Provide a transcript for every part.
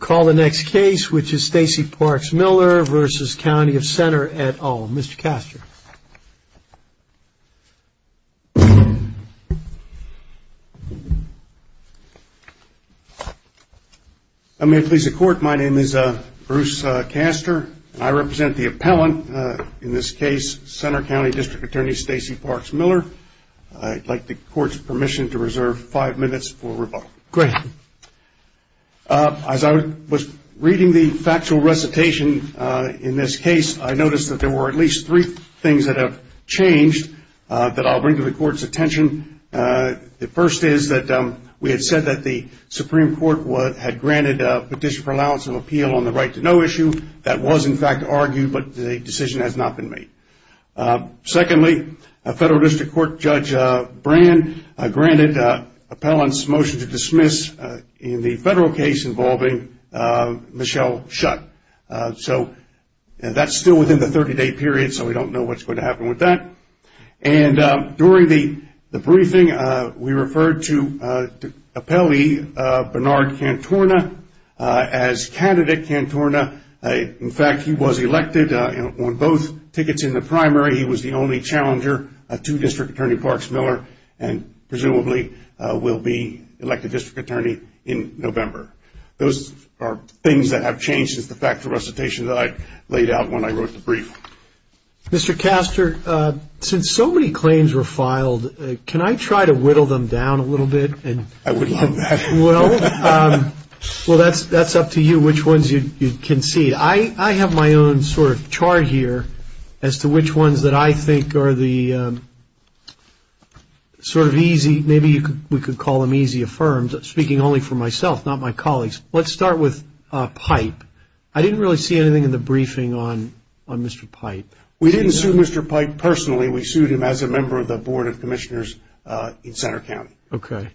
Call the next case, which is Stacey Parks Miller v. County of Centre et al. Mr. Castor. I may please the court. My name is Bruce Castor. I represent the appellant, in this case, Centre County District Attorney Stacey Parks Miller. I'd like the court's permission to reserve five minutes for rebuttal. Great. As I was reading the factual recitation in this case, I noticed that there were at least three things that have changed that I'll bring to the court's attention. The first is that we had said that the Supreme Court had granted a petition for allowance of appeal on the right to know issue. That was, in fact, argued, but the decision has not been made. Secondly, Federal District Court Judge Brand granted the appellant's motion to dismiss in the federal case involving Michelle Schutt. That's still within the 30-day period, so we don't know what's going to happen with that. During the briefing, we referred to appellee Bernard Cantorna as Candidate Cantorna. In fact, he was elected on both tickets in the primary. He was the only challenger to District Attorney Parks Miller, and presumably will be elected District Attorney in November. Those are things that have changed since the factual recitation that I laid out when I wrote the brief. Mr. Castor, since so many claims were filed, can I try to whittle them down a little bit? I would love that. Well, that's up to you, which ones you concede. I have my own chart here as to which ones that I think are the easy, maybe we could call them easy affirms. I'm speaking only for myself, not my colleagues. Let's start with Pipe. I didn't really see anything in the briefing on Mr. Pipe. We didn't sue Mr. Pipe personally. We sued him as a member of the Board of Commissioners in Center County. Okay.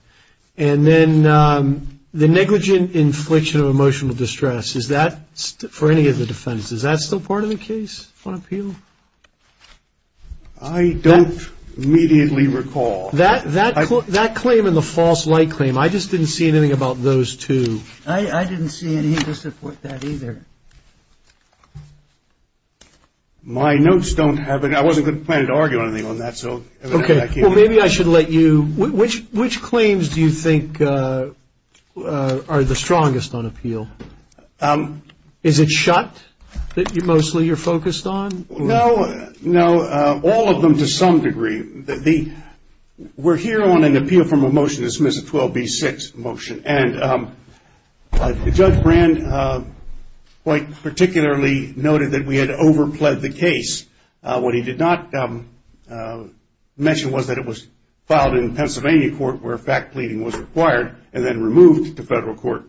And then the negligent infliction of emotional distress, is that, for any of the defendants, is that still part of the case on appeal? I don't immediately recall. That claim and the false light claim, I just didn't see anything about those two. I didn't see anything to support that either. My notes don't have it. I wasn't going to plan to argue anything on that. Okay. Well, maybe I should let you. Which claims do you think are the strongest on appeal? Is it shut that mostly you're focused on? No. All of them to some degree. We're here on an appeal from a motion to dismiss a 12B6 motion. Judge Brand quite particularly noted that we had overpled the case. What he did not mention was that it was filed in Pennsylvania court where fact pleading was required and then removed to federal court.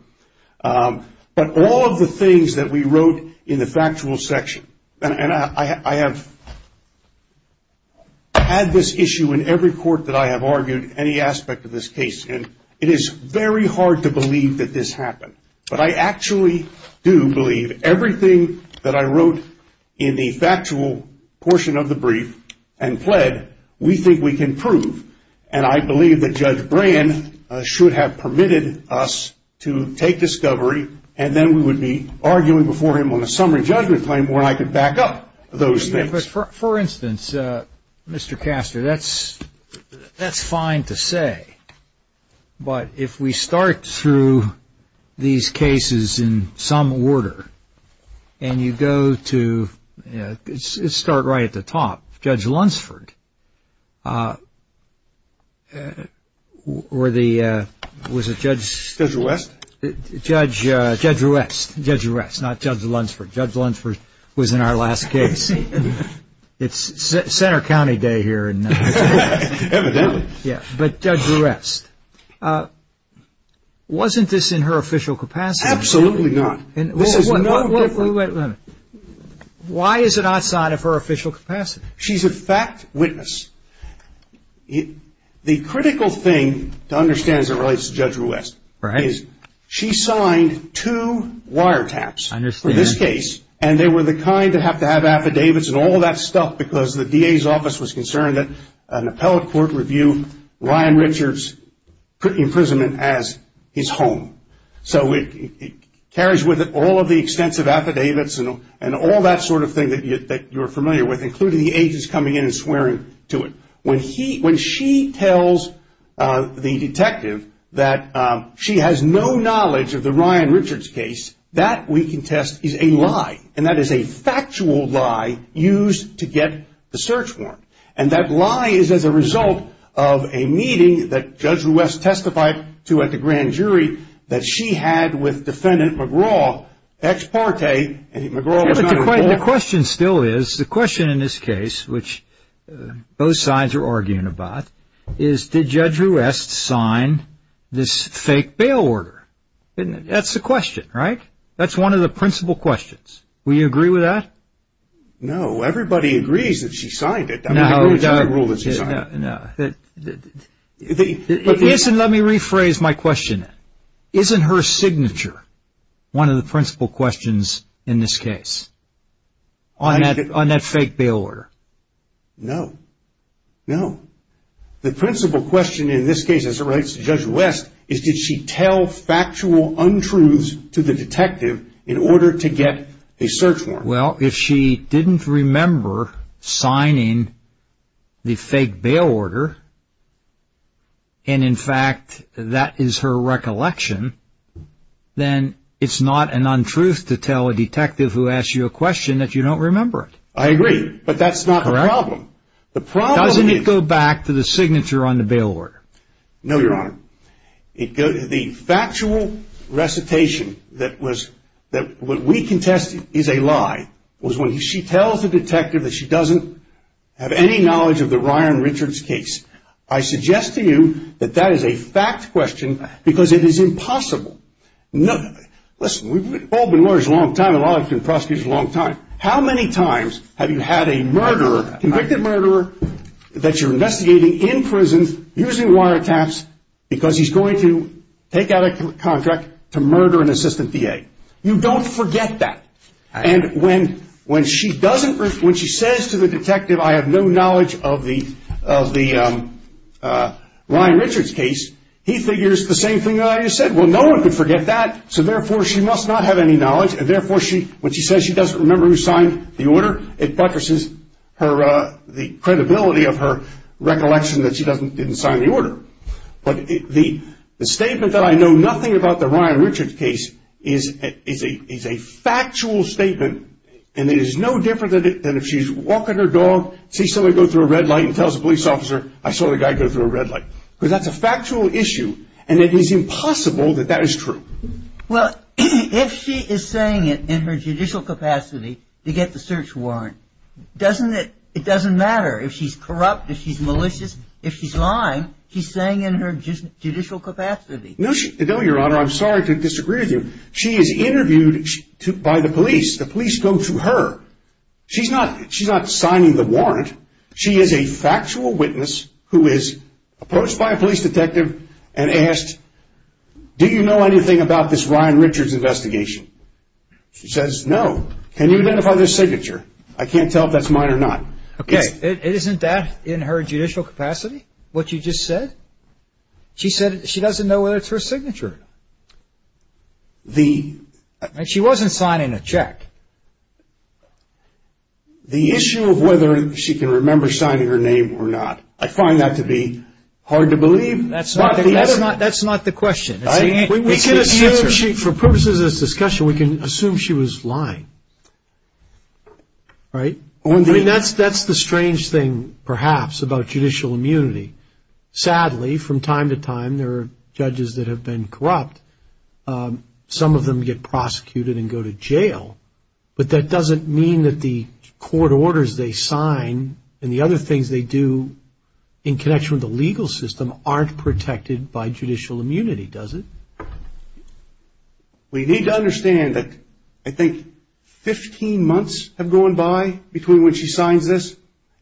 But all of the things that we wrote in the factual section, and I have had this issue in every court that I have argued any aspect of this case. It is very hard to believe that this happened. But I believe that in the factual portion of the brief and pled, we think we can prove. And I believe that Judge Brand should have permitted us to take discovery and then we would be arguing before him on a summary judgment claim where I could back up those things. For instance, Mr. Castor, that's fine to say. But if we start through these cases in some order and you go to, let's start right at the top, Judge Lunsford. Was it Judge? Judge West. Judge West. Judge West, not Judge Lunsford. Judge Lunsford was in our last case. It's Center County Day here. Evidently. But Judge West. Wasn't this in her official capacity? Absolutely not. Why is it outside of her official capacity? She's a fact witness. The critical thing to understand as it relates to Judge West is she signed two wiretaps for this case and they were the kind that have to have affidavits and all that stuff because the DA's office was concerned that an appellate court review Ryan Richards' imprisonment as his home. So it carries with it all of the extensive affidavits and all that sort of thing that you're familiar with including the agents coming in and swearing to it. When she tells the detective that she has no knowledge of the Ryan Richards case, that we can test is a lie. And that is a factual lie used to get the search warrant. And that lie is as a result of a meeting that Judge West had with Defendant McGraw ex parte. The question still is, the question in this case which both sides are arguing about, is did Judge West sign this fake bail order? That's the question, right? That's one of the principal questions. Will you agree with that? No. Everybody agrees that she signed it. No. Let me rephrase my question. Isn't her signature one of the principal questions in this case on that fake bail order? No. The principal question in this case, as it relates to Judge West, is did she tell factual untruths to the detective in order to get a search warrant? Well, if she didn't remember signing the fake bail order, and in fact that is her recollection, then that is her recollection then it's not an untruth to tell a detective who asked you a question that you don't remember it. I agree, but that's not the problem. The problem is... Doesn't it go back to the signature on the bail order? No, Your Honor. The factual recitation that what we can test is a lie was when she tells the detective that she doesn't have any knowledge of the Ryan Richards case. I suggest to you that that is a fact question because it is impossible. Listen, we've all been lawyers a long time, a lot of us have been prosecutors a long time. How many times have you had a murderer, convicted murderer, that you're investigating in prison using wiretaps because he's going to take out a contract to murder an assistant DA? You don't forget that. And when she says to the detective, I have no knowledge of the Ryan Richards case, he figures the same thing that I just said. Well, no one could forget that, so therefore she must not have any knowledge, and therefore when she says she doesn't remember who signed the order, it buttresses the credibility of her recollection that she didn't sign the order. But the statement that I know nothing about the Ryan Richards case is a factual statement and it is no different than if she's walking her dog, sees somebody go through a red light and tells a police officer, I saw the guy go through a red light. Because that's a factual issue, and it is impossible that that is true. Well, if she is saying it in her judicial capacity to get the search warrant, doesn't it, it doesn't matter if she's corrupt, if she's malicious, if she's lying, she's saying in her judicial capacity. No, Your Honor, I'm sorry to disagree with you. She is interviewed by the police. The is a factual witness who is approached by a police detective and asked, do you know anything about this Ryan Richards investigation? She says, no. Can you identify this signature? I can't tell if that's mine or not. Okay, isn't that in her judicial capacity, what you just said? She said she doesn't know whether it's her signature. She wasn't signing a check. The issue of whether she can remember signing her name or not, I find that to be hard to believe. That's not the question. We can assume, for purposes of this discussion, we can assume she was lying. Right? I mean, that's the strange thing, perhaps, about judicial immunity. Sadly, from time to time, there is. But that doesn't mean that the court orders they sign and the other things they do in connection with the legal system aren't protected by judicial immunity, does it? We need to understand that I think 15 months have gone by between when she signs this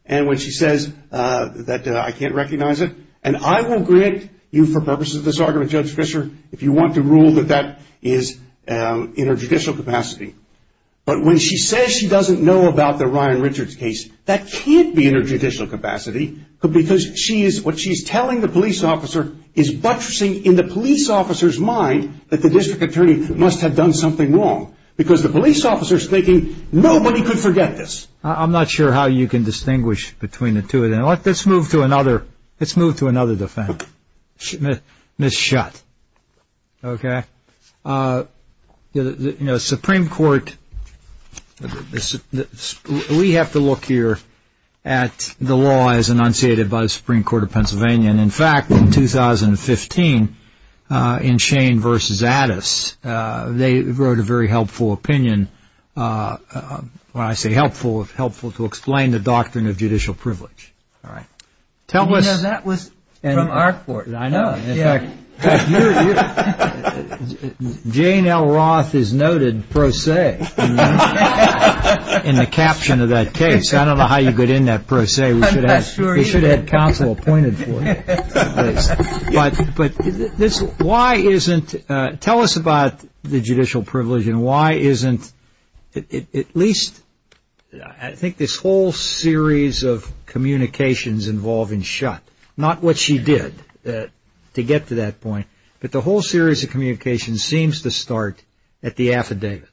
and when she says that I can't recognize it. And I will grant you, for purposes of this argument, Judge Fischer, if you want to rule that that is in her judicial capacity. But when she says she doesn't know about the Ryan Richards case, that can't be in her judicial capacity because what she's telling the police officer is buttressing in the police officer's mind that the district attorney must have done something wrong. Because the police officer is thinking, nobody could forget this. I'm not sure how you can distinguish between the two of them. Let's move to another defense. Ms. Schutt. Okay. You know, Supreme Court, we have to look here at the law as enunciated by the Supreme Court of Pennsylvania. And in fact, in 2015, in Shane v. Addis, they wrote a very helpful opinion. When I say helpful, it's helpful to explain the doctrine of judicial privilege. Jane L. Roth is noted pro se in the caption of that case. I don't know how you get in that pro se. We should have counsel appointed for you. But why isn't, tell us about the judicial privilege and why isn't at least, I think this whole series of communications involving Schutt, not what she did to get to that point, but the whole series of communications seems to start at the affidavit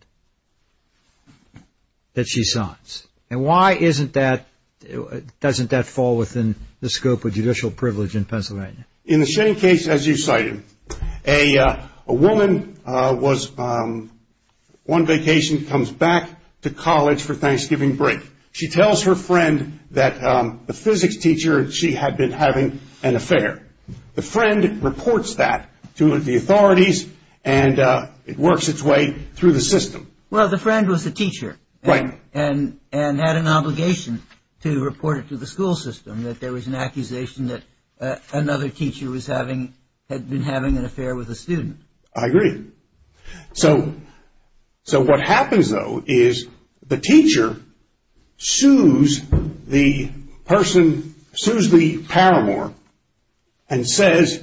that she signs. And why isn't that, doesn't that fall within the scope of judicial privilege in Pennsylvania? In the Shane case, as you cited, a woman was on vacation, comes back to college for Thanksgiving and she was having an affair. The friend reports that to the authorities and it works its way through the system. Well, the friend was the teacher and had an obligation to report it to the school system that there was an accusation that another teacher had been having an affair with a student. I agree. So what happens, though, is the teacher sues the person who sued the paramour and says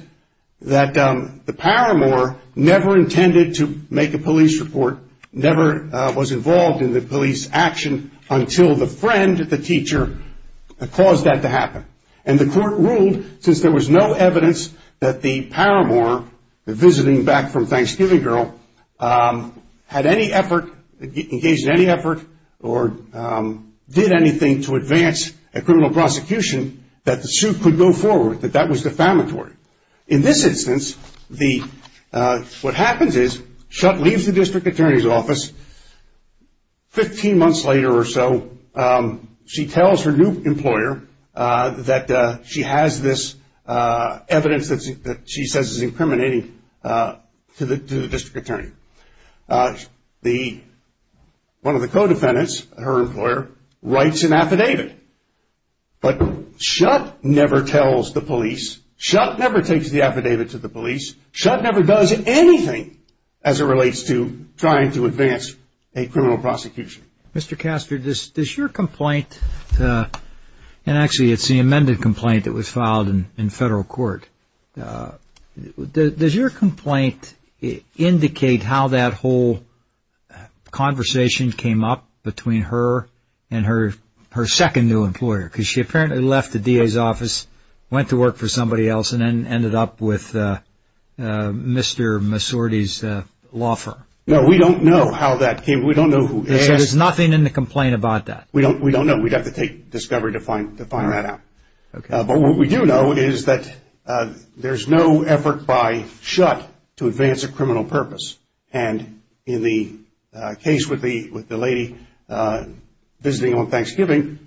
that the paramour never intended to make a police report, never was involved in the police action until the friend, the teacher, caused that to happen. And the court ruled, since there was no evidence that the paramour, the visiting back from Thanksgiving girl, had any effort, engaged in any effort or did anything to advance a case, that the suit could go forward, that that was defamatory. In this instance, what happens is, Shutt leaves the district attorney's office. Fifteen months later or so, she tells her new employer that she has this evidence that she says is incriminating to the district attorney. One of the co-defendants, her employer, writes an affidavit. But Shutt, who is the district attorney, writes the affidavit. And Shutt never tells the police. Shutt never takes the affidavit to the police. Shutt never does anything as it relates to trying to advance a criminal prosecution. Mr. Castor, does your complaint, and actually it's the amended complaint that was filed in federal court, does your complaint indicate how that whole conversation came up between the district attorney's office, went to work for somebody else, and ended up with Mr. Massorti's law firm? No, we don't know how that came. We don't know who asked. So there's nothing in the complaint about that? We don't know. We'd have to take discovery to find that out. But what we do know is that there's no effort by Shutt to advance a criminal purpose. And in the case with the lady visiting on Thanksgiving,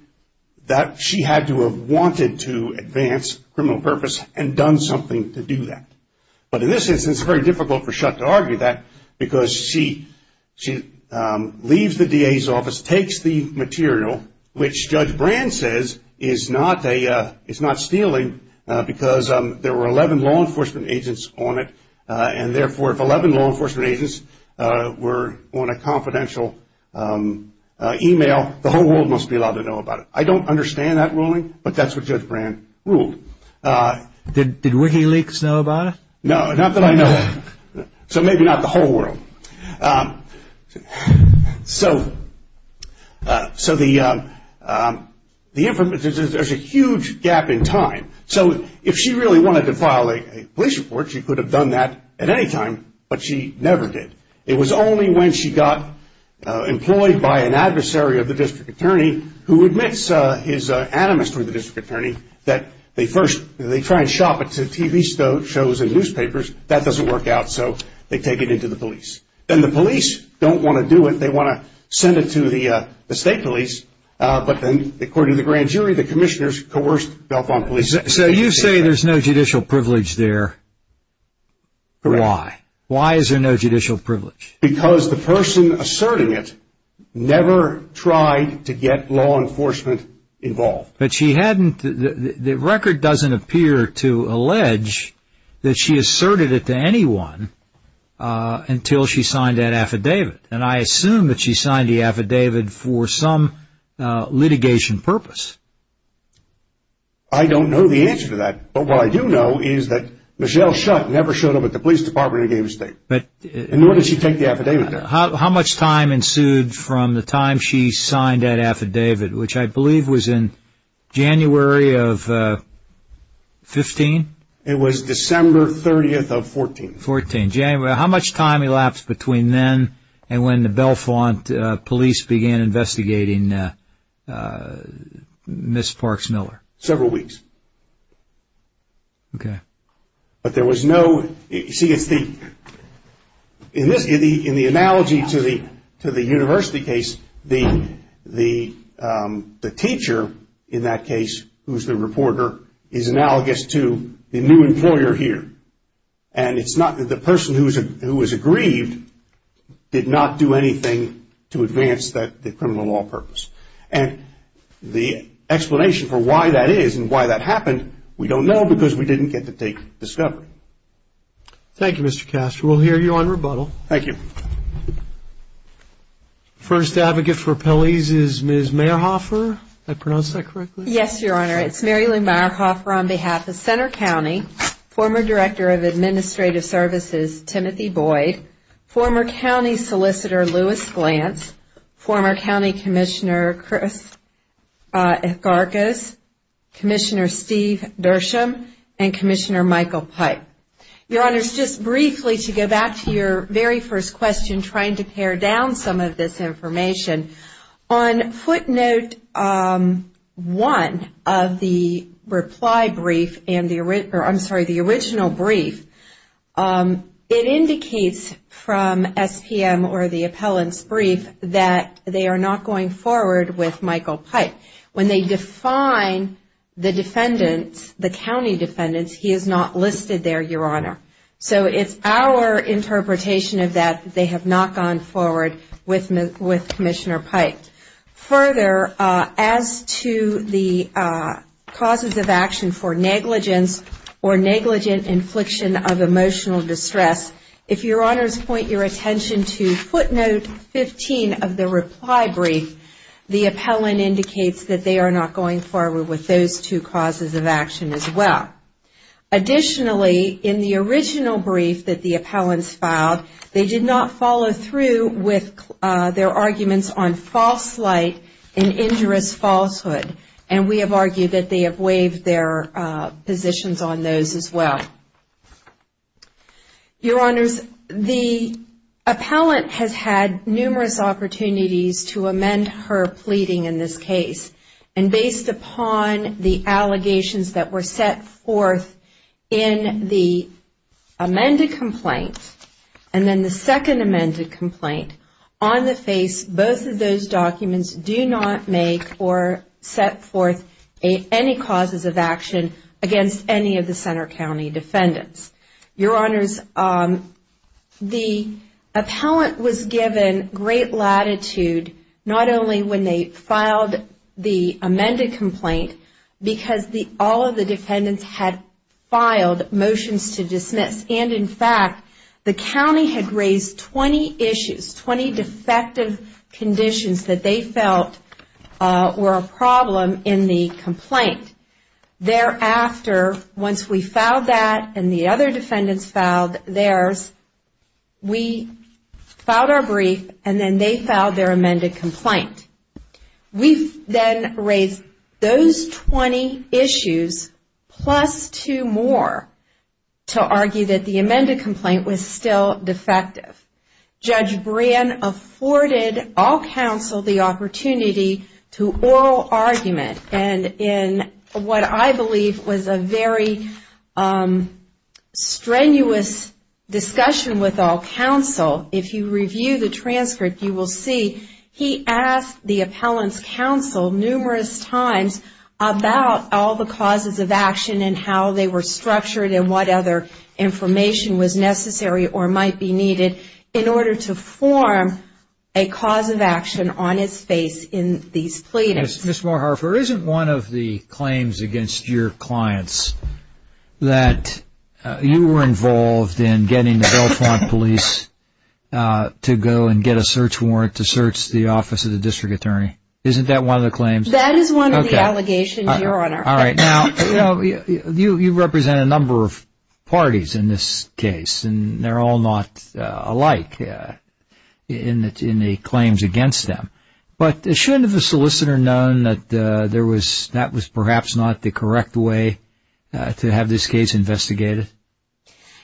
that she had to have wanted to advance a criminal purpose and done something to do that. But in this instance, it's very difficult for Shutt to argue that because she leaves the DA's office, takes the material, which Judge Brand says is not stealing, because there were 11 law enforcement agents on it. And therefore, if 11 law enforcement agents were on a confidential email, the whole world must be allowed to know about it. I don't understand that ruling, but that's what Judge Brand ruled. Did WikiLeaks know about it? No, not that I know of. So maybe not the whole world. So there's a huge gap in time. So if she really wanted to file a police report, she could have done that at any time, but she never did. It was only when she got employed by an adversary of the District Attorney, who admits his animus to the District Attorney, that they first try to shop it to TV shows and newspapers. That doesn't work out, so they take it into the police. And the police don't want to do it. They want to send it to the state police. But then, according to the grand jury, the commissioners coerced Belfont Police to take it. So you say there's no judicial privilege there. Why? Why is there no judicial privilege? Because the person asserting it never tried to get law enforcement involved. But the record doesn't appear to allege that she asserted it to anyone until she signed that affidavit. And I assume that she signed the affidavit for some litigation purpose. I don't know the answer to that. But what I do know is that Michelle Shutt never showed up at the police department in the state. Nor did she take the affidavit there. How much time ensued from the time she signed that affidavit, which I believe was in January of 15? It was December 30th of 14. 14. How much time elapsed between then and when the Belfont Police began investigating Ms. Parks Miller? Several weeks. But there was no... In the analogy to the university case, the teacher in that case, who's the reporter, is analogous to the new employer here. And it's not that the person who was aggrieved did not do anything to advance the criminal law purpose. And the explanation for why that is and why that happened, we don't know because we didn't get to take discovery. Thank you, Mr. Castro. We'll hear you on rebuttal. First advocate for appellees is Ms. Mayerhofer. Did I pronounce that correctly? Yes, Your Honor. It's Mary Lou Mayerhofer on behalf of Center County, former director of administrative services, Timothy Boyd, former county solicitor, Louis Glantz, former county commissioner, Chris Gargas, commissioner Steve Dersham, and commissioner Michael Pipe. Your Honor, just briefly to go back to your very first question, trying to pare down some of this information, on footnote one of the reply brief, I'm sorry, the original brief, it indicates from SPM or the appellant's brief that they are not going forward with Michael Pipe. When they define the defendants, the county defendants, he is not listed there, Your Honor. So it's our interpretation of that they have not gone forward with Commissioner Pipe. Further, as to the causes of action for negligence or negligent infliction of violence against children of emotional distress, if Your Honor's point your attention to footnote 15 of the reply brief, the appellant indicates that they are not going forward with those two causes of action as well. Additionally, in the original brief that the appellants filed, they did not follow through with their arguments on false light and injurious falsehood. And we have argued that they have waived their positions on those as well. Your Honors, the appellant has had numerous opportunities to amend her pleading in this case. And based upon the allegations that were set forth in the amended complaint, and then the second amended complaint, on the face, both of those documents do not make or set forth any causes of action against any of the Center County defendants. Your Honors, the appellant was given great latitude, not only when they filed the amended complaint, because all of the defendants had filed motions to dismiss. And in fact, the motions were a problem in the complaint. Thereafter, once we filed that and the other defendants filed theirs, we filed our brief and then they filed their amended complaint. We then raised those 20 issues plus two more to argue that the amended complaint was still a moral argument. And in what I believe was a very strenuous discussion with all counsel, if you review the transcript, you will see he asked the appellant's counsel numerous times about all the causes of action and how they were structured and what other information was necessary or might be needed in order to form a cause of action on his face in these cases. Ms. Moorharfer, isn't one of the claims against your clients that you were involved in getting the Bellefonte Police to go and get a search warrant to search the office of the District Attorney? Isn't that one of the claims? That is one of the allegations, Your Honor. All right. Now, you represent a number of parties in this case, and they're all not involved in this case. Is it fair to say, Your Honor, that that was perhaps not the correct way to have this case investigated?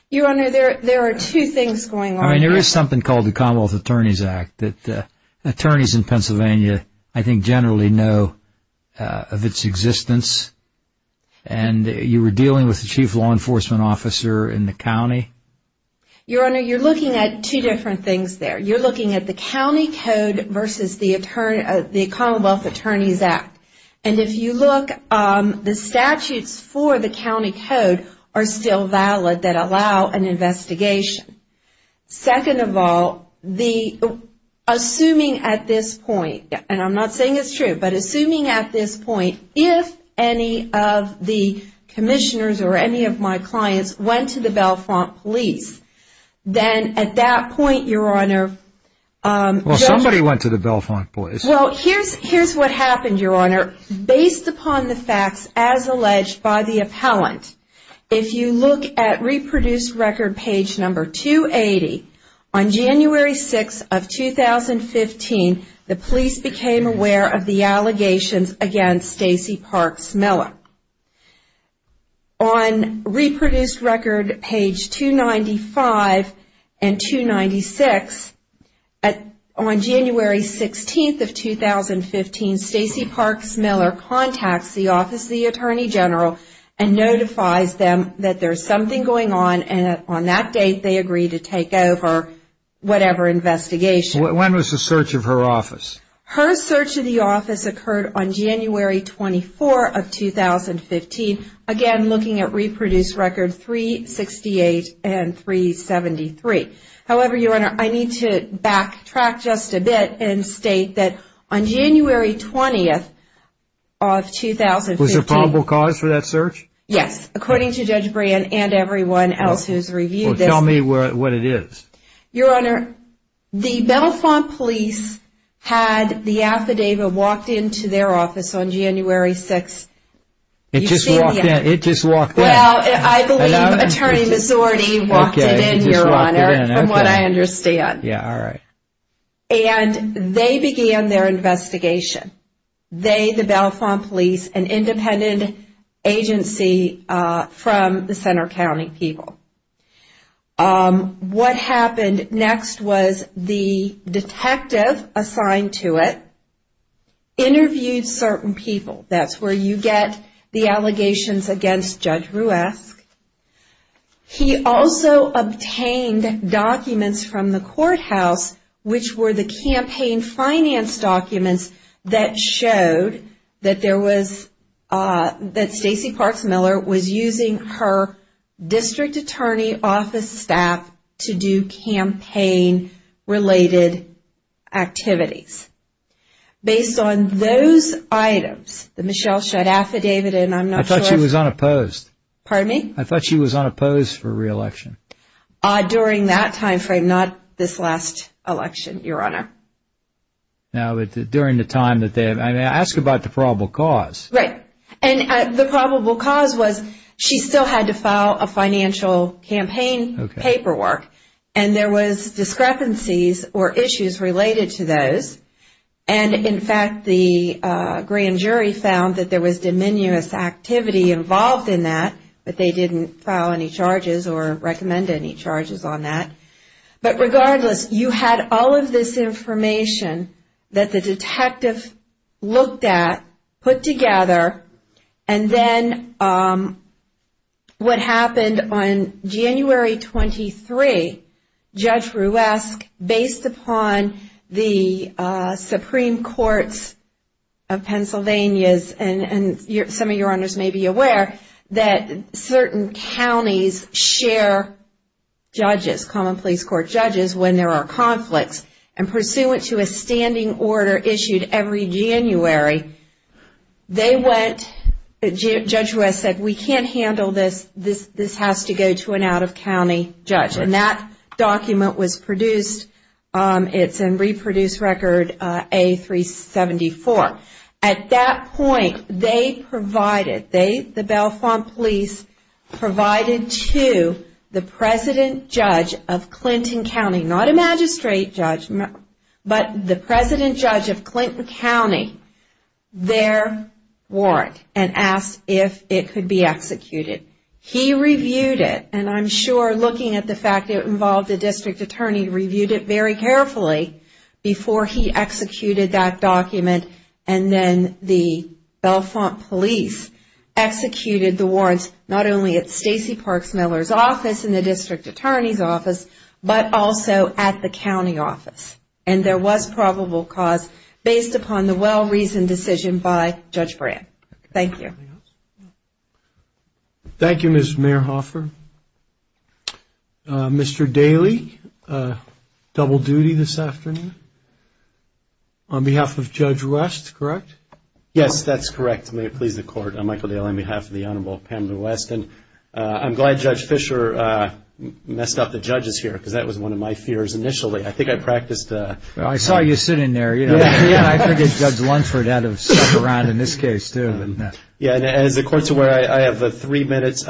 Your Honor, there are two things going on. I mean, there is something called the Commonwealth Attorneys Act that attorneys in Pennsylvania, I think, generally know of its existence. And you were dealing with the Chief Law Enforcement Officer in the county? Your Honor, you're looking at two different things there. You're looking at the county code versus the Commonwealth Attorneys Act. And if you look, the statutes for the county code are still valid that allow an investigation. Second of all, assuming at this point, and I'm not saying it's true, but assuming at this point, if any of the commissioners or any of my clients went to the Bellefonte police, then at that point, Your Honor, Well, somebody went to the Bellefonte police. Well, here's what happened, Your Honor. Based upon the facts as alleged by the appellant, if you look at reproduced record page number 280, on January 6th of 2015, the police became aware of the allegations against Stacey Parks Miller. On reproduced record page 295 and 296, on January 16th of 2015, Stacey Parks Miller contacts the Office of the Attorney General and notifies them that there's something going on, and on that date, they agree to take over whatever investigation. When was the search of her office? Her search of the office occurred on January 24th of 2015, again looking at reproduced record 368 and 373. However, Your Honor, I need to backtrack just a bit and state that on January 20th of 2015, Was there probable cause for that search? Yes, according to Judge Brand and everyone else who's reviewed this. Well, tell me what it is. Your Honor, the Bellefonte police had the affidavit walked into their office on January 6th. It just walked in? Well, I believe Attorney Missorti walked it in, Your Honor, from what I understand. Yeah, alright. And they began their investigation. They, the Bellefonte police, an independent agency from the Center County people. What happened next was the detective assigned to it interviewed certain people. That's where you get the allegations against Judge Ruesch. He also obtained documents from the courthouse, which were the campaign finance documents that showed that Stacey Parks Miller was using her district attorney office staff to do campaign related activities. Based on those items, the Michelle Shedd affidavit, and I'm not sure... I thought she was unopposed. Pardon me? I thought she was unopposed for re-election. During that time frame, not this last election, Your Honor. Now, during the time that they... I mean, ask about the probable cause. Right. And the probable cause was she still had to file a financial campaign paperwork. And there was discrepancies or issues related to those. And, in fact, the grand jury found that there was diminuous activity involved in that, but they didn't file any charges or recommend any charges on that. But, regardless, you had all of this information that the detective looked at, put together, and then what happened on January 23, Judge Ruesch, based upon the Supreme Courts of Pennsylvania, and some of Your Honors may be aware, that certain counties share judges, common police court judges, when there are conflicts. And pursuant to a standing order issued every January, Judge Ruesch said, we can't handle this, this has to go to an out-of-county judge. And that document was produced. It's in Reproduce Record A-374. At that point, they provided, the Bellefonte Police provided to the President Judge of Clinton County, not a magistrate judge, but the President Judge of Clinton County, their warrant, and asked if it could be executed. He reviewed it, and I'm sure looking at the fact that it involved a district attorney, he reviewed it very carefully before he executed that document, and then the Bellefonte Police executed the warrants, not only at Stacey Parks Miller's office and the district attorney's office, but also at the county office. And there was probable cause based upon the well-reasoned decision by Judge Brandt. Thank you. Thank you, Ms. Mayerhofer. Mr. Daly, double duty this afternoon on behalf of Judge West, correct? Yes, that's correct. May it please the Court. I'm Michael Daly on behalf of the Honorable Pamela West, and I'm glad Judge Fischer messed up the judges here because that was one of my fears initially. I think I practiced. I saw you sitting there. I think it's Judge Lunford out of St. Laurent in this case too. Yeah, and as the Court's aware, I have three minutes.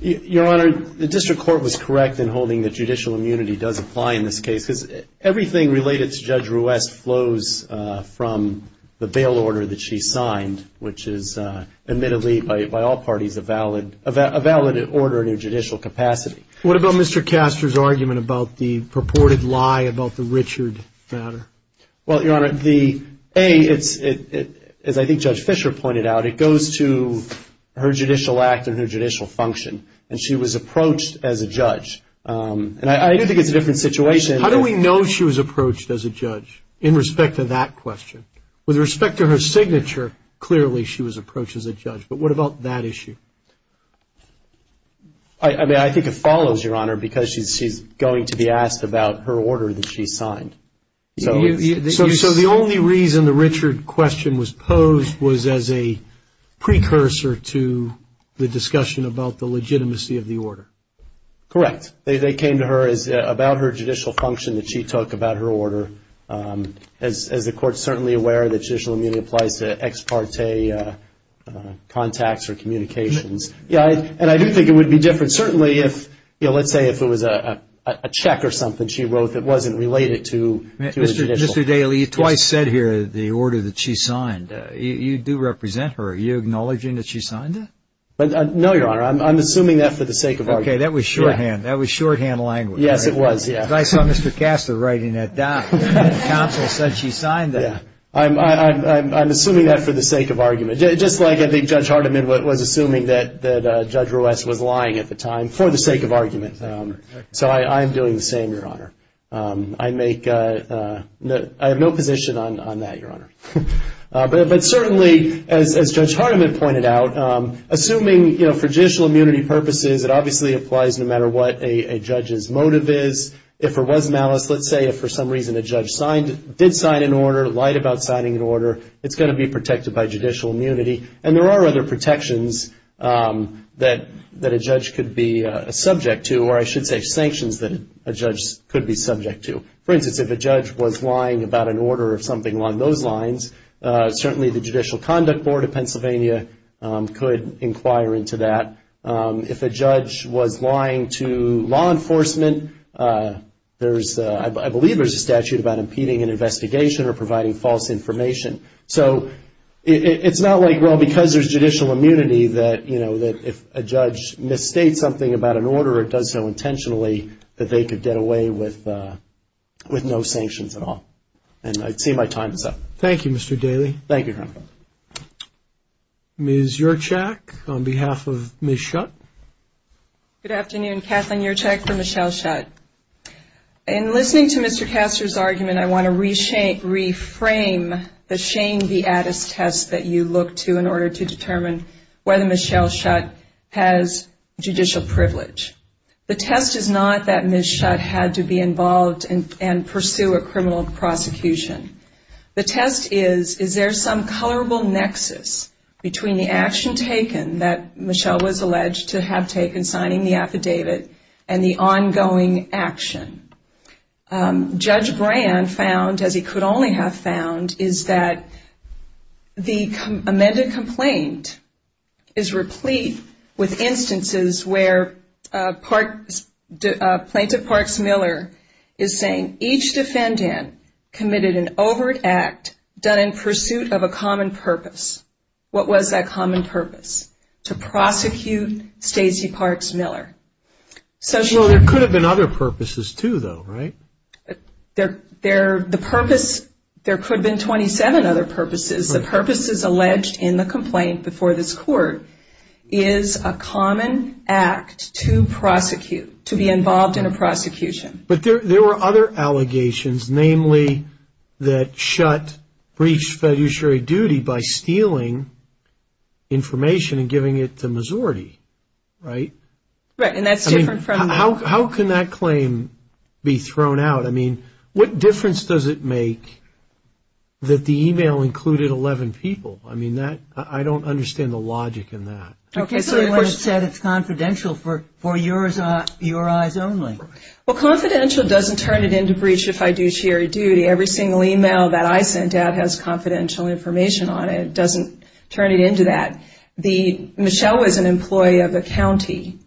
Your Honor, the district court was correct in holding that judicial immunity does apply in this case because everything related to Judge West flows from the bail order that she signed, which is admittedly by all parties a valid order in her judicial capacity. What about Mr. Castor's argument about the purported lie about the Richard matter? Well, Your Honor, the A, as I think Judge Fischer pointed out, it goes to her judicial act and her judicial function, and she was approached as a judge. And I do think it's a different situation. How do we know she was approached as a judge in respect to that question? With respect to her signature, clearly she was approached as a judge. But what about that issue? I mean, I think it follows, Your Honor, because she's going to be asked about her order that she signed. So the only reason the Richard question was posed was as a precursor to the discussion about the legitimacy of the order. Correct. They came to her about her judicial function that she took about her order. As the Court's certainly aware, the judicial immunity applies to ex parte contacts or communications. Yeah, and I do think it would be different certainly if, you know, let's say if it was a check or something she wrote that wasn't related to the judicial. Mr. Daly, you twice said here the order that she signed. You do represent her. Are you acknowledging that she signed it? No, Your Honor. I'm assuming that for the sake of argument. Okay, that was shorthand. That was shorthand language. Yes, it was, yeah. I saw Mr. Castor writing that down. The counsel said she signed that. Yeah. I'm assuming that for the sake of argument. Just like I think Judge Hardiman was assuming that Judge Ruess was lying at the time for the sake of argument. So I'm doing the same, Your Honor. I have no position on that, Your Honor. But certainly, as Judge Hardiman pointed out, assuming, you know, for judicial immunity purposes, it obviously applies no matter what a judge's motive is. If there was malice, let's say if for some reason a judge did sign an order, lied about signing an order, it's going to be protected by judicial immunity. And there are other protections that a judge could be subject to, or I should say sanctions that a judge could be subject to. For instance, if a judge was lying about an order or something along those lines, certainly the Judicial Conduct Board of Pennsylvania could inquire into that. If a judge was lying to law enforcement, I believe there's a statute about impeding an investigation or providing false information. So it's not like, well, because there's judicial immunity that, you know, if a judge misstates something about an order or does so intentionally, that they could get away with no sanctions at all. And I'd say my time is up. Thank you, Mr. Daly. Thank you, Your Honor. Ms. Urchak, on behalf of Ms. Schutt. Good afternoon. Kathleen Urchak for Michelle Schutt. In listening to Mr. Castor's argument, I want to reframe the shame viatus test that you look to in order to determine whether Ms. Schutt has judicial privilege. The test is not that Ms. Schutt had to be involved and pursue a criminal prosecution. The test is, is there some colorable nexus between the action taken that Michelle was alleged to have taken, signing the affidavit, and the ongoing action? Judge Brand found, as he could only have found, is that the amended complaint is replete with instances where Plaintiff Parks Miller is saying, each defendant committed an overt act done in pursuit of a common purpose. What was that common purpose? To prosecute Stacey Parks Miller. Well, there could have been other purposes, too, though, right? The purpose, there could have been 27 other purposes. The purposes alleged in the complaint before this Court is a common act to prosecute, to be involved in a prosecution. But there were other allegations, namely that Schutt breached fiduciary duty by stealing information and giving it to a majority, right? Right, and that's different from- I mean, how can that claim be thrown out? I mean, what difference does it make that the email included 11 people? I mean, I don't understand the logic in that. Okay, so it was said it's confidential for your eyes only. Well, confidential doesn't turn it into breach of fiduciary duty. Every single email that I sent out has confidential information on it. It doesn't turn it into that. Michelle was an employee of the county,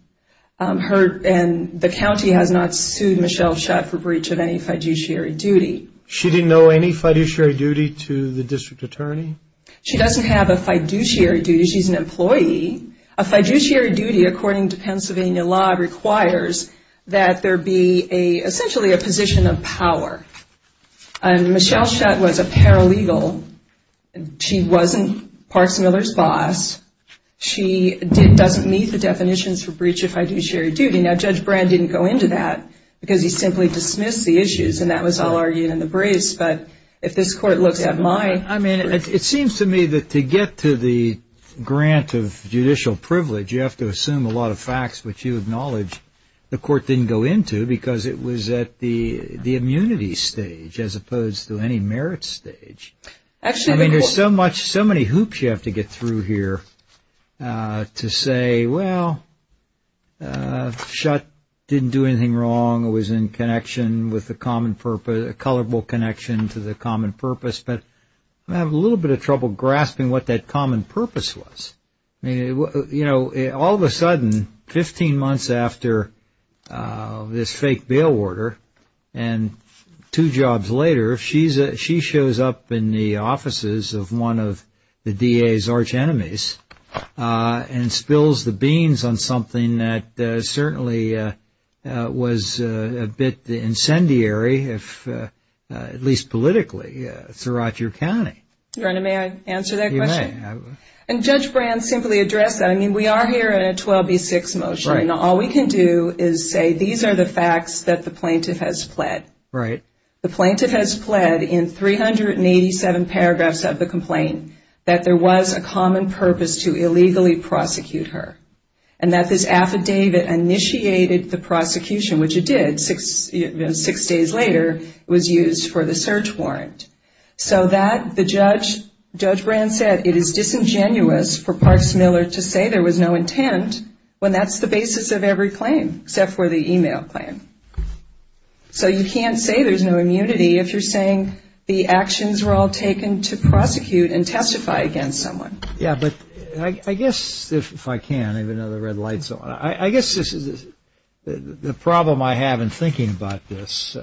and the county has not sued Michelle Schutt for breach of any fiduciary duty. She didn't know any fiduciary duty to the district attorney? She doesn't have a fiduciary duty. She's an employee. A fiduciary duty, according to Pennsylvania law, requires that there be essentially a position of power. And Michelle Schutt was a paralegal. She wasn't Parks Miller's boss. She doesn't meet the definitions for breach of fiduciary duty. Now, Judge Brand didn't go into that because he simply dismissed the issues, and that was all argued in the brace. But if this court looks at my- I mean, it seems to me that to get to the grant of judicial privilege, you have to assume a lot of facts which you acknowledge the court didn't go into because it was at the immunity stage as opposed to any merit stage. I mean, there's so many hoops you have to get through here to say, well, Schutt didn't do anything wrong, it was in connection with the common purpose, a colorful connection to the common purpose. But I have a little bit of trouble grasping what that common purpose was. You know, all of a sudden, 15 months after this fake bail order and two jobs later, she shows up in the offices of one of the DA's arch enemies and spills the beans on something that certainly was a bit incendiary, at least politically, throughout your county. Your Honor, may I answer that question? You may. And Judge Brand simply addressed that. I mean, we are here in a 12B6 motion. All we can do is say these are the facts that the plaintiff has pled. Right. The plaintiff has pled in 387 paragraphs of the complaint that there was a common purpose to illegally prosecute her and that this affidavit initiated the prosecution, which it did. Six days later, it was used for the search warrant. So that the judge, Judge Brand said, it is disingenuous for Parks Miller to say there was no intent when that's the basis of every claim except for the email claim. So you can't say there's no immunity if you're saying the actions were all taken to prosecute and testify against someone. Yeah, but I guess if I can, I have another red light. I guess the problem I have in thinking about this,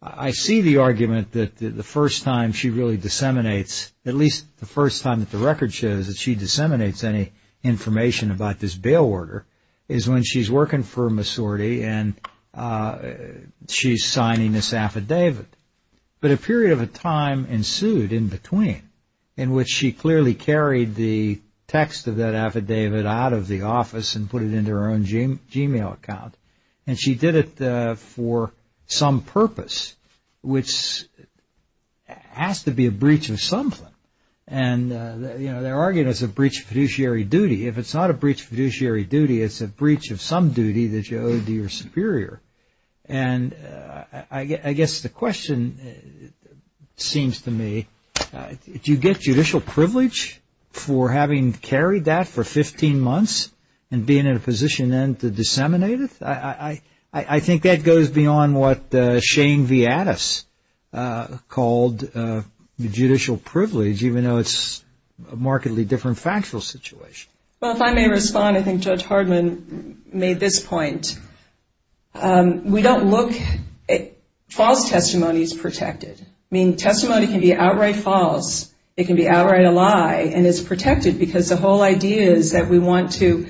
I see the argument that the first time she really disseminates, at least the first time that the record shows that she disseminates any information about this bail order, is when she's working for Masorti and she's signing this affidavit. But a period of time ensued in between in which she clearly carried the text of that affidavit out of the office and put it into her own Gmail account. And she did it for some purpose, which has to be a breach of something. And they're arguing it's a breach of fiduciary duty. If it's not a breach of fiduciary duty, it's a breach of some duty that you owe to your superior. And I guess the question seems to me, do you get judicial privilege for having carried that for 15 months and being in a position then to disseminate it? I think that goes beyond what Shane Viadis called judicial privilege, even though it's a markedly different factual situation. Well, if I may respond, I think Judge Hardman made this point. We don't look at false testimonies protected. I mean, testimony can be outright false. It can be outright a lie. And it's protected because the whole idea is that we want to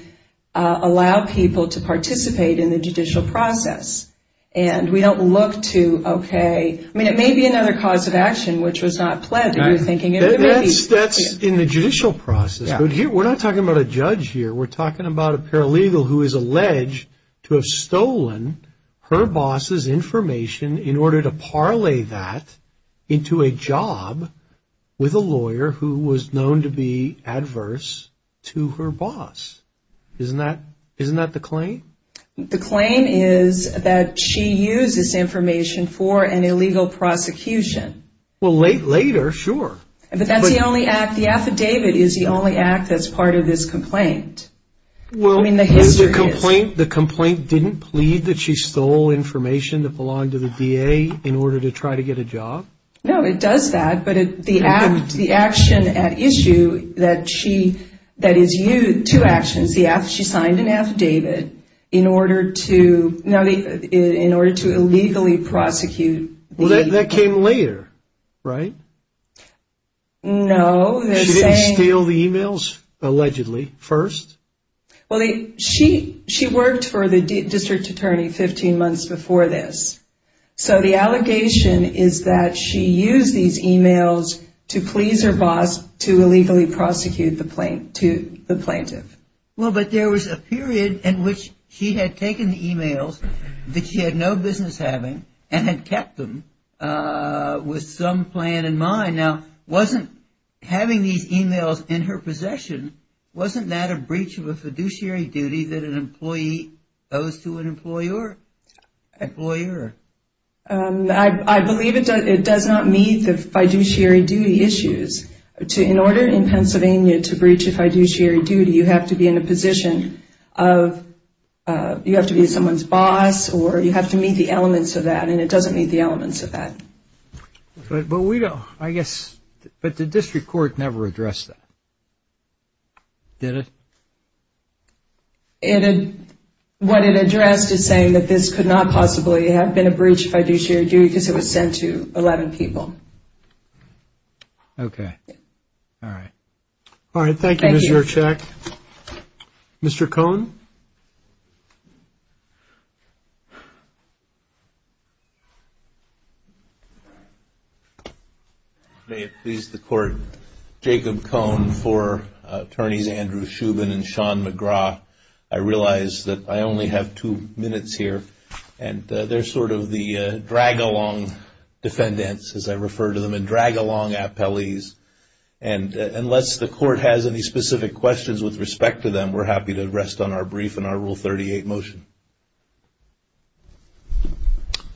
allow people to participate in the judicial process. And we don't look to, okay, I mean, it may be another cause of action which was not planned that you're thinking. That's in the judicial process. We're not talking about a judge here. We're talking about a paralegal who is alleged to have stolen her boss's information in order to parlay that into a job with a lawyer who was known to be adverse to her boss. Isn't that the claim? The claim is that she used this information for an illegal prosecution. Well, later, sure. But that's the only act. The affidavit is the only act that's part of this complaint. I mean, the history is. The complaint didn't plead that she stole information that belonged to the DA in order to try to get a job? No, it does that. But the action at issue that is used, two actions. She signed an affidavit in order to illegally prosecute. Well, that came later, right? No. She didn't steal the e-mails, allegedly, first? Well, she worked for the district attorney 15 months before this. So the allegation is that she used these e-mails to please her boss to illegally prosecute the plaintiff. Well, but there was a period in which she had taken the e-mails that she had no business having and had kept them with some plan in mind. Now, having these e-mails in her possession, wasn't that a breach of a fiduciary duty that an employee owes to an employer? I believe it does not meet the fiduciary duty issues. In order in Pennsylvania to breach a fiduciary duty, you have to be in a position of you have to be someone's boss or you have to meet the elements of that, and it doesn't meet the elements of that. But we don't, I guess, but the district court never addressed that, did it? What it addressed is saying that this could not possibly have been a breach of fiduciary duty because it was sent to 11 people. Okay. All right, thank you, Ms. Jurczyk. Mr. Cohn? May it please the Court, Jacob Cohn for Attorneys Andrew Shubin and Sean McGraw. I realize that I only have two minutes here, and they're sort of the drag-along defendants, as I refer to them, and drag-along appellees. And unless the Court has any specific questions with respect to them, we're happy to rest on our brief and our Rule 38 motion.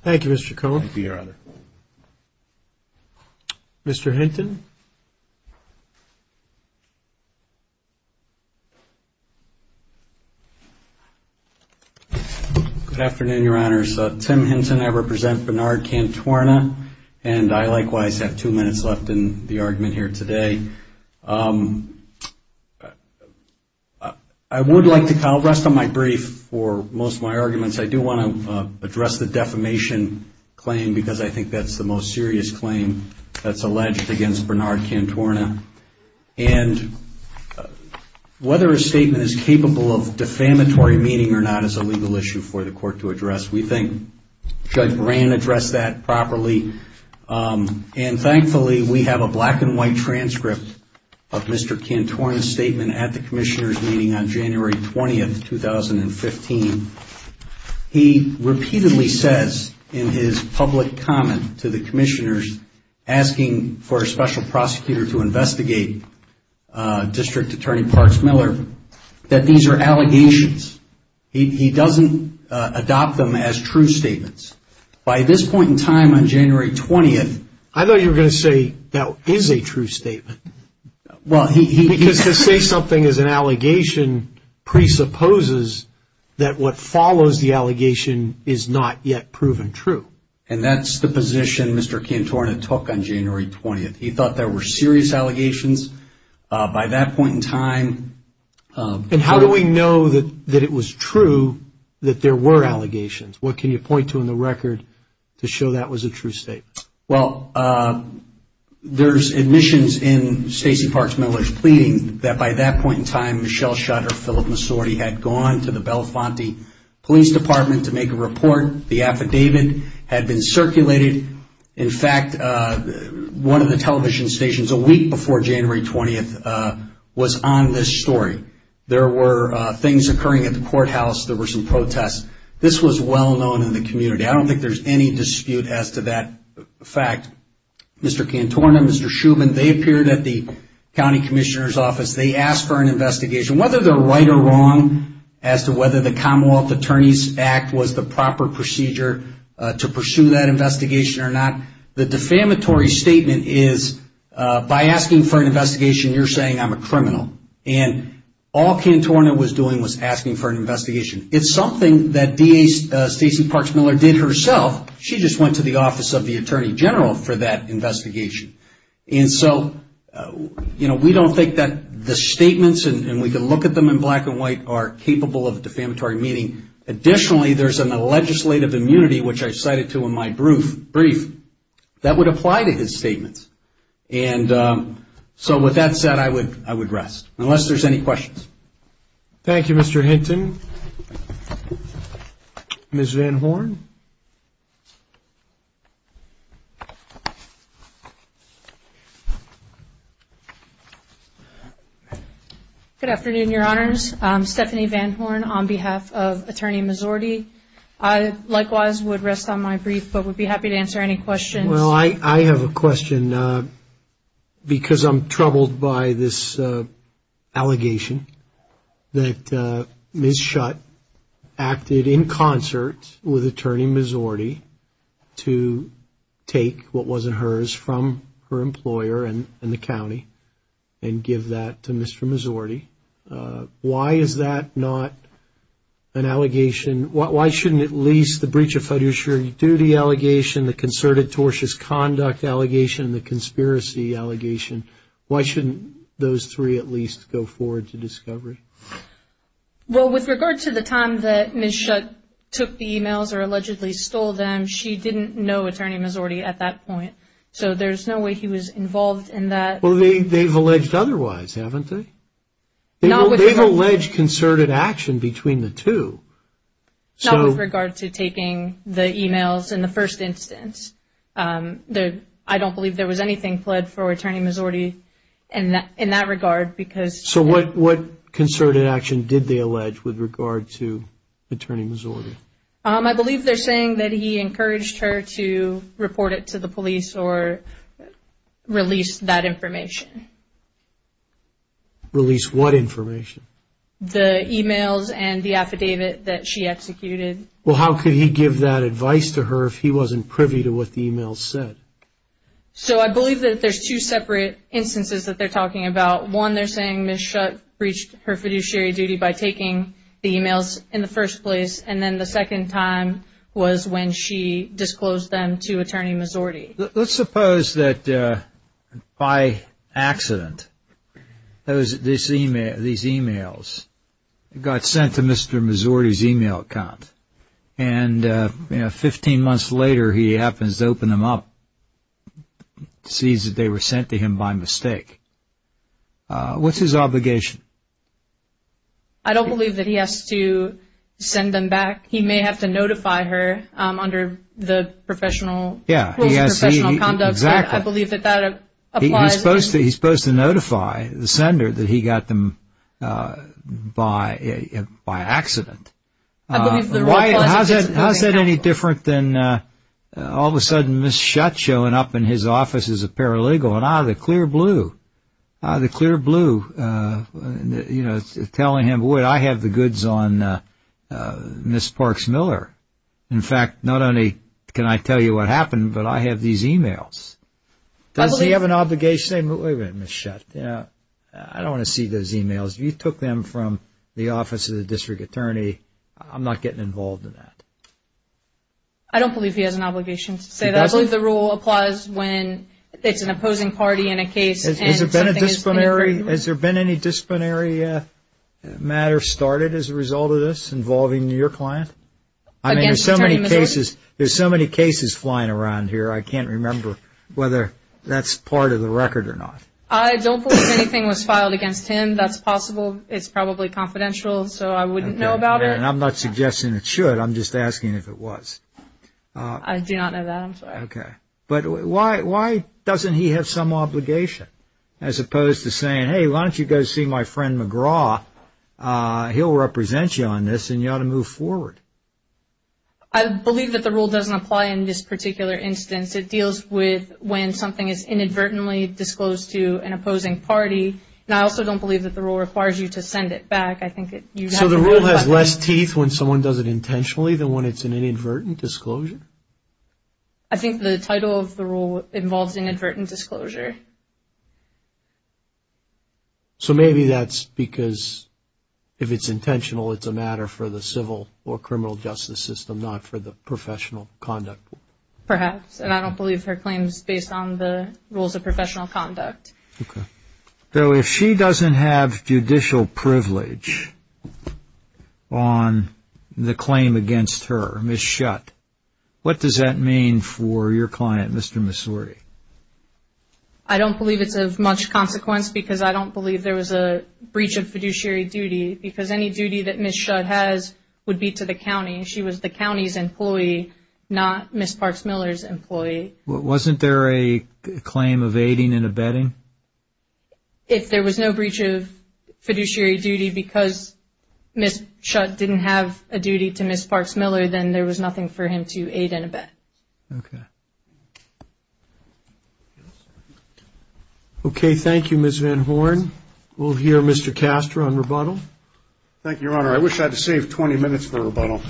Thank you, Mr. Cohn. Thank you, Your Honor. Mr. Hinton? Good afternoon, Your Honors. Tim Hinton, I represent Bernard Cantuorna, and I likewise have two minutes left in the argument here today. I would like to rest on my brief for most of my arguments. I do want to address the defamation claim because I think that's the most serious claim that's alleged against Bernard Cantuorna. And whether a statement is capable of defamatory meaning or not is a legal issue for the Court to address. We think Judge Moran addressed that properly. And thankfully, we have a black-and-white transcript of Mr. Cantuorna's statement at the Commissioner's meeting on January 20, 2015. He repeatedly says in his public comment to the Commissioners asking for a special prosecutor to investigate District Attorney Parks Miller that these are allegations. He doesn't adopt them as true statements. By this point in time, on January 20th... I thought you were going to say that is a true statement. Because to say something is an allegation presupposes that what follows the allegation is not yet proven true. And that's the position Mr. Cantuorna took on January 20th. He thought there were serious allegations. By that point in time... And how do we know that it was true that there were allegations? What can you point to in the record to show that was a true statement? Well, there's admissions in Stacey Parks Miller's pleading that by that point in time, Michelle Schotter, Philip Massorti had gone to the Belafonte Police Department to make a report. The affidavit had been circulated. In fact, one of the television stations a week before January 20th was on this story. There were things occurring at the courthouse. There were some protests. This was well-known in the community. I don't think there's any dispute as to that fact. Mr. Cantuorna, Mr. Shuman, they appeared at the county commissioner's office. They asked for an investigation. Whether they're right or wrong as to whether the Commonwealth Attorneys Act was the proper procedure to pursue that investigation or not, the defamatory statement is by asking for an investigation, you're saying I'm a criminal. All Cantuorna was doing was asking for an investigation. It's something that DA Stacey Parks Miller did herself. She just went to the Office of the Attorney General for that investigation. We don't think that the statements, and we can look at them in black and white, are capable of defamatory meaning. Additionally, there's a legislative immunity, which I cited to in my brief, that would apply to his statements. With that said, I would rest, unless there's any questions. Thank you, Mr. Hinton. Ms. Van Horn? Good afternoon, Your Honors. I'm Stephanie Van Horn on behalf of Attorney Mizzorti. I likewise would rest on my brief, but would be happy to answer any questions. Well, I have a question because I'm troubled by this allegation that Ms. Schutt acted in concert with Attorney Mizzorti to take what wasn't hers from her employer in the county and give that to Mr. Mizzorti. Why is that not an allegation? Why shouldn't at least the breach of fiduciary duty allegation, the concerted tortious conduct allegation, and the conspiracy allegation, why shouldn't those three at least go forward to discovery? Well, with regard to the time that Ms. Schutt took the e-mails or allegedly stole them, she didn't know Attorney Mizzorti at that point, so there's no way he was involved in that. Well, they've alleged otherwise, haven't they? They've alleged concerted action between the two. Not with regard to taking the e-mails in the first instance. I don't believe there was anything pled for Attorney Mizzorti in that regard. So what concerted action did they allege with regard to Attorney Mizzorti? I believe they're saying that he encouraged her to report it to the police or release that information. Release what information? The e-mails and the affidavit that she executed. Well, how could he give that advice to her if he wasn't privy to what the e-mails said? So I believe that there's two separate instances that they're talking about. One, they're saying Ms. Schutt breached her fiduciary duty by taking the e-mails in the first place, and then the second time was when she disclosed them to Attorney Mizzorti. Let's suppose that by accident these e-mails got sent to Mr. Mizzorti's e-mail account, and 15 months later he happens to open them up and sees that they were sent to him by mistake. What's his obligation? I don't believe that he has to send them back. He may have to notify her under the professional conduct. I believe that that applies. He's supposed to notify the sender that he got them by accident. How is that any different than all of a sudden Ms. Schutt showing up in his office as a paralegal and out of the clear blue telling him, boy, I have the goods on Ms. Parks Miller. In fact, not only can I tell you what happened, but I have these e-mails. Does he have an obligation? Wait a minute, Ms. Schutt. I don't want to see those e-mails. You took them from the office of the district attorney. I'm not getting involved in that. I don't believe he has an obligation to say that. I believe the rule applies when it's an opposing party in a case. Has there been any disciplinary matter started as a result of this involving your client? There's so many cases flying around here, I can't remember whether that's part of the record or not. I don't believe anything was filed against him. That's possible. It's probably confidential, so I wouldn't know about it. I'm not suggesting it should. I'm just asking if it was. I do not know that. I'm sorry. Okay. But why doesn't he have some obligation as opposed to saying, hey, why don't you go see my friend McGraw? He'll represent you on this, and you ought to move forward. I believe that the rule doesn't apply in this particular instance. It deals with when something is inadvertently disclosed to an opposing party, and I also don't believe that the rule requires you to send it back. So the rule has less teeth when someone does it intentionally than when it's an inadvertent disclosure? I think the title of the rule involves inadvertent disclosure. So maybe that's because if it's intentional, it's a matter for the civil or criminal justice system, not for the professional conduct. Perhaps, and I don't believe her claim is based on the rules of professional conduct. Okay. So if she doesn't have judicial privilege on the claim against her, Ms. Shutt, what does that mean for your client, Mr. Missouri? I don't believe it's of much consequence because I don't believe there was a breach of fiduciary duty because any duty that Ms. Shutt has would be to the county. She was the county's employee, not Ms. Parks Miller's employee. Wasn't there a claim of aiding and abetting? If there was no breach of fiduciary duty because Ms. Shutt didn't have a duty to Ms. Parks Miller, then there was nothing for him to aid and abet. Okay. Okay, thank you, Ms. Van Horn. We'll hear Mr. Castro on rebuttal. Thank you, Your Honor. I wish I had saved 20 minutes for rebuttal.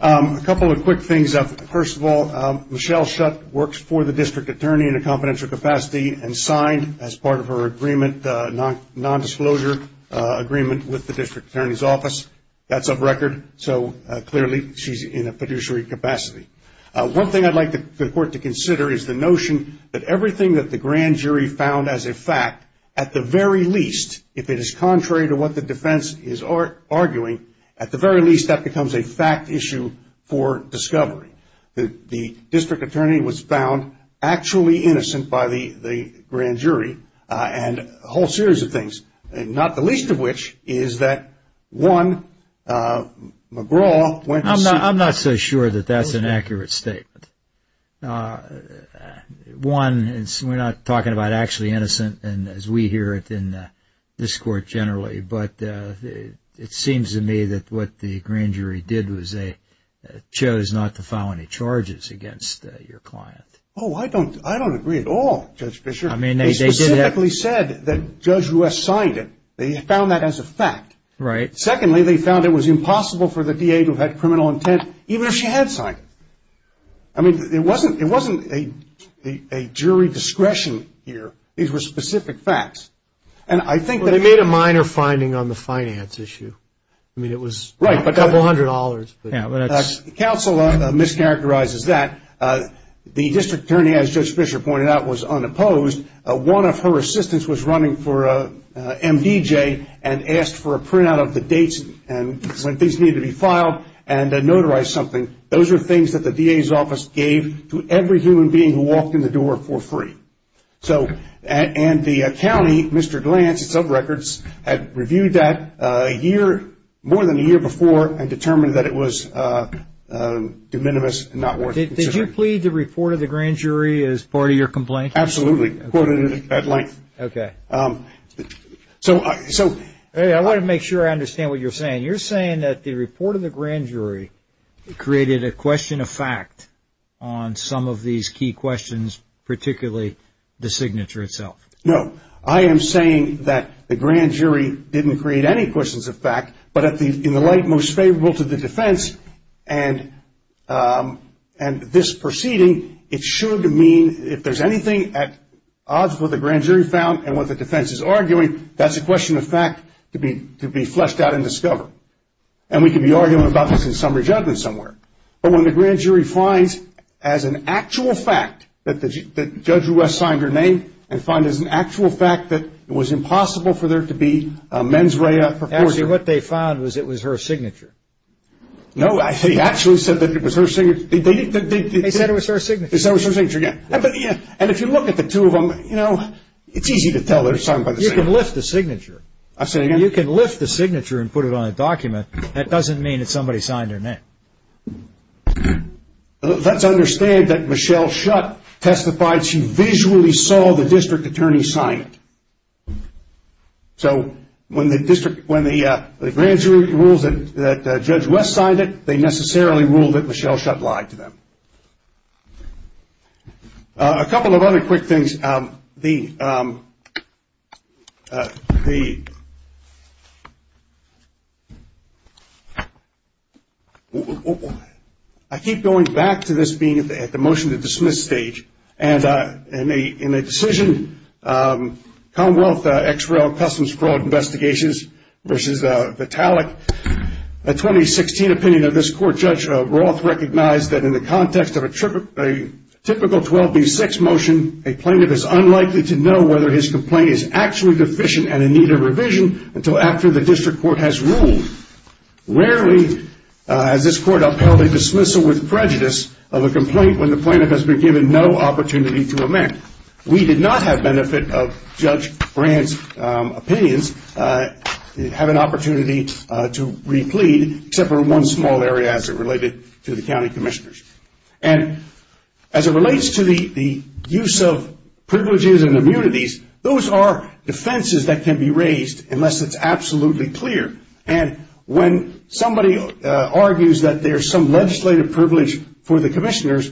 A couple of quick things. First of all, Michelle Shutt works for the district attorney in a confidential capacity and signed as part of her agreement, nondisclosure agreement with the district attorney's office. That's a record. So clearly she's in a fiduciary capacity. One thing I'd like the court to consider is the notion that everything that the grand jury found as a fact, at the very least, if it is contrary to what the defense is arguing, at the very least that becomes a fact issue for discovery. The district attorney was found actually innocent by the grand jury and a whole series of things, not the least of which is that, one, McGraw went to see. I'm not so sure that that's an accurate statement. One, we're not talking about actually innocent as we hear it in this court generally, but it seems to me that what the grand jury did was they chose not to file any charges against your client. Oh, I don't agree at all, Judge Fischer. They specifically said that Judge West signed it. They found that as a fact. Right. Secondly, they found it was impossible for the DA to have had criminal intent even if she had signed it. I mean, it wasn't a jury discretion here. These were specific facts. They made a minor finding on the finance issue. I mean, it was a couple hundred dollars. Counsel mischaracterizes that. The district attorney, as Judge Fischer pointed out, was unopposed. One of her assistants was running for MDJ and asked for a printout of the dates when things needed to be filed and notarized something. Those are things that the DA's office gave to every human being who walked in the door for free. And the county, Mr. Glantz, had reviewed that more than a year before and determined that it was de minimis and not worth considering. Did you plead the report of the grand jury as part of your complaint? Absolutely. Quoted it at length. Okay. I want to make sure I understand what you're saying. You're saying that the report of the grand jury created a question of fact on some of these key questions, particularly the signature itself? No. I am saying that the grand jury didn't create any questions of fact, but in the light most favorable to the defense and this proceeding, it should mean if there's anything at odds with what the grand jury found and what the defense is arguing, that's a question of fact to be fleshed out and discovered. And we could be arguing about this in summary judgment somewhere. But when the grand jury finds as an actual fact that Judge West signed her name and find as an actual fact that it was impossible for there to be a mens rea proportion. Actually, what they found was it was her signature. No, he actually said that it was her signature. They said it was her signature. They said it was her signature, yes. And if you look at the two of them, you know, it's easy to tell they're signed by the same person. You can lift the signature. I say again? No, you can lift the signature and put it on a document. That doesn't mean that somebody signed her name. Let's understand that Michelle Schutt testified she visually saw the district attorney sign it. So when the grand jury rules that Judge West signed it, they necessarily ruled that Michelle Schutt lied to them. A couple of other quick things. The ‑‑ I keep going back to this being at the motion to dismiss stage. And in a decision, Commonwealth XRL Customs Fraud Investigations versus Vitalik, a 2016 opinion of this court, Judge Roth recognized that in the context of a typical 12B6 motion, a plaintiff is unlikely to know whether his complaint is actually deficient and in need of revision until after the district court has ruled. Rarely has this court upheld a dismissal with prejudice of a complaint when the plaintiff has been given no opportunity to amend. And we did not have benefit of Judge Brand's opinions, have an opportunity to replete except for one small area as it related to the county commissioners. And as it relates to the use of privileges and immunities, those are defenses that can be raised unless it's absolutely clear. And when somebody argues that there's some legislative privilege for the commissioners,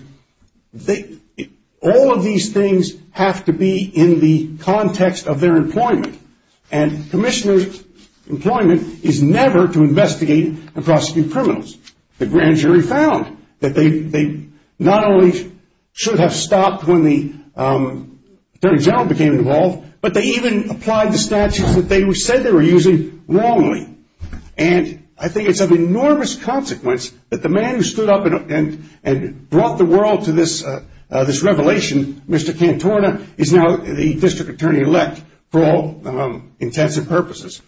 all of these things have to be in the context of their employment. And commissioners' employment is never to investigate and prosecute criminals. The grand jury found that they not only should have stopped when the attorney general became involved, but they even applied the statutes that they said they were using wrongly. And I think it's of enormous consequence that the man who stood up and brought the world to this revelation, Mr. Cantorna, is now the district attorney elect for all intents and purposes.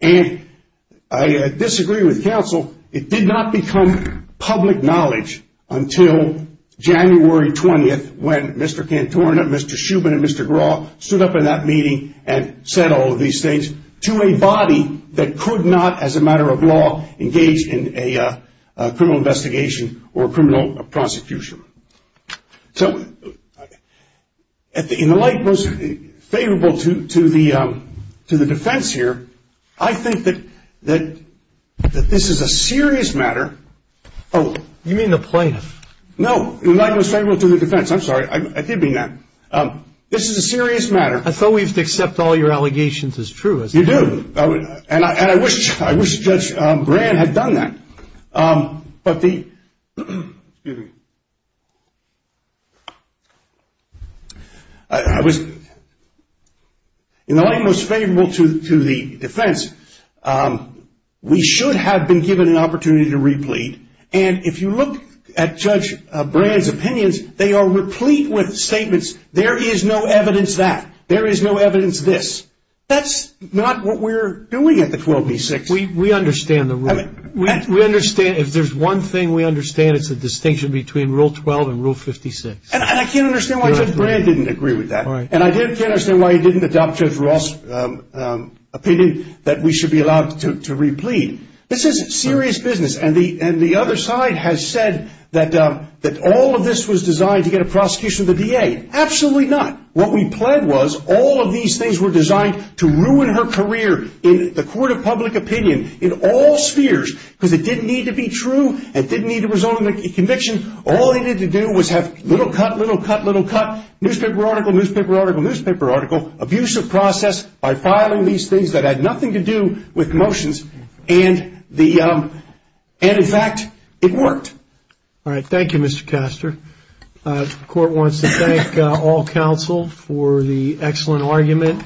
And I disagree with counsel. It did not become public knowledge until January 20th when Mr. Cantorna, Mr. Shuman, and Mr. Graw stood up in that meeting and said all of these things to a body that could not, as a matter of law, engage in a criminal investigation or a criminal prosecution. In the light most favorable to the defense here, I think that this is a serious matter. You mean the plaintiff? No. In the light most favorable to the defense. I'm sorry. I did mean that. This is a serious matter. I thought we used to accept all your allegations as true. You do. And I wish Judge Brand had done that. But the, excuse me, I was, in the light most favorable to the defense, we should have been given an opportunity to replete. And if you look at Judge Brand's opinions, they are replete with statements, there is no evidence that, there is no evidence this. That's not what we're doing at the 12B6. We understand the rule. If there's one thing we understand, it's the distinction between Rule 12 and Rule 56. And I can't understand why Judge Brand didn't agree with that. And I can't understand why he didn't adopt Judge Ross' opinion that we should be allowed to replete. This is serious business. And the other side has said that all of this was designed to get a prosecution of the DA. Absolutely not. What we pled was all of these things were designed to ruin her career in the court of public opinion, in all spheres, because it didn't need to be true. It didn't need to result in a conviction. All they needed to do was have little cut, little cut, little cut, newspaper article, newspaper article, newspaper article, abuse of process by filing these things that had nothing to do with motions. And in fact, it worked. All right. Thank you, Mr. Castor. The court wants to thank all counsel for the excellent argument.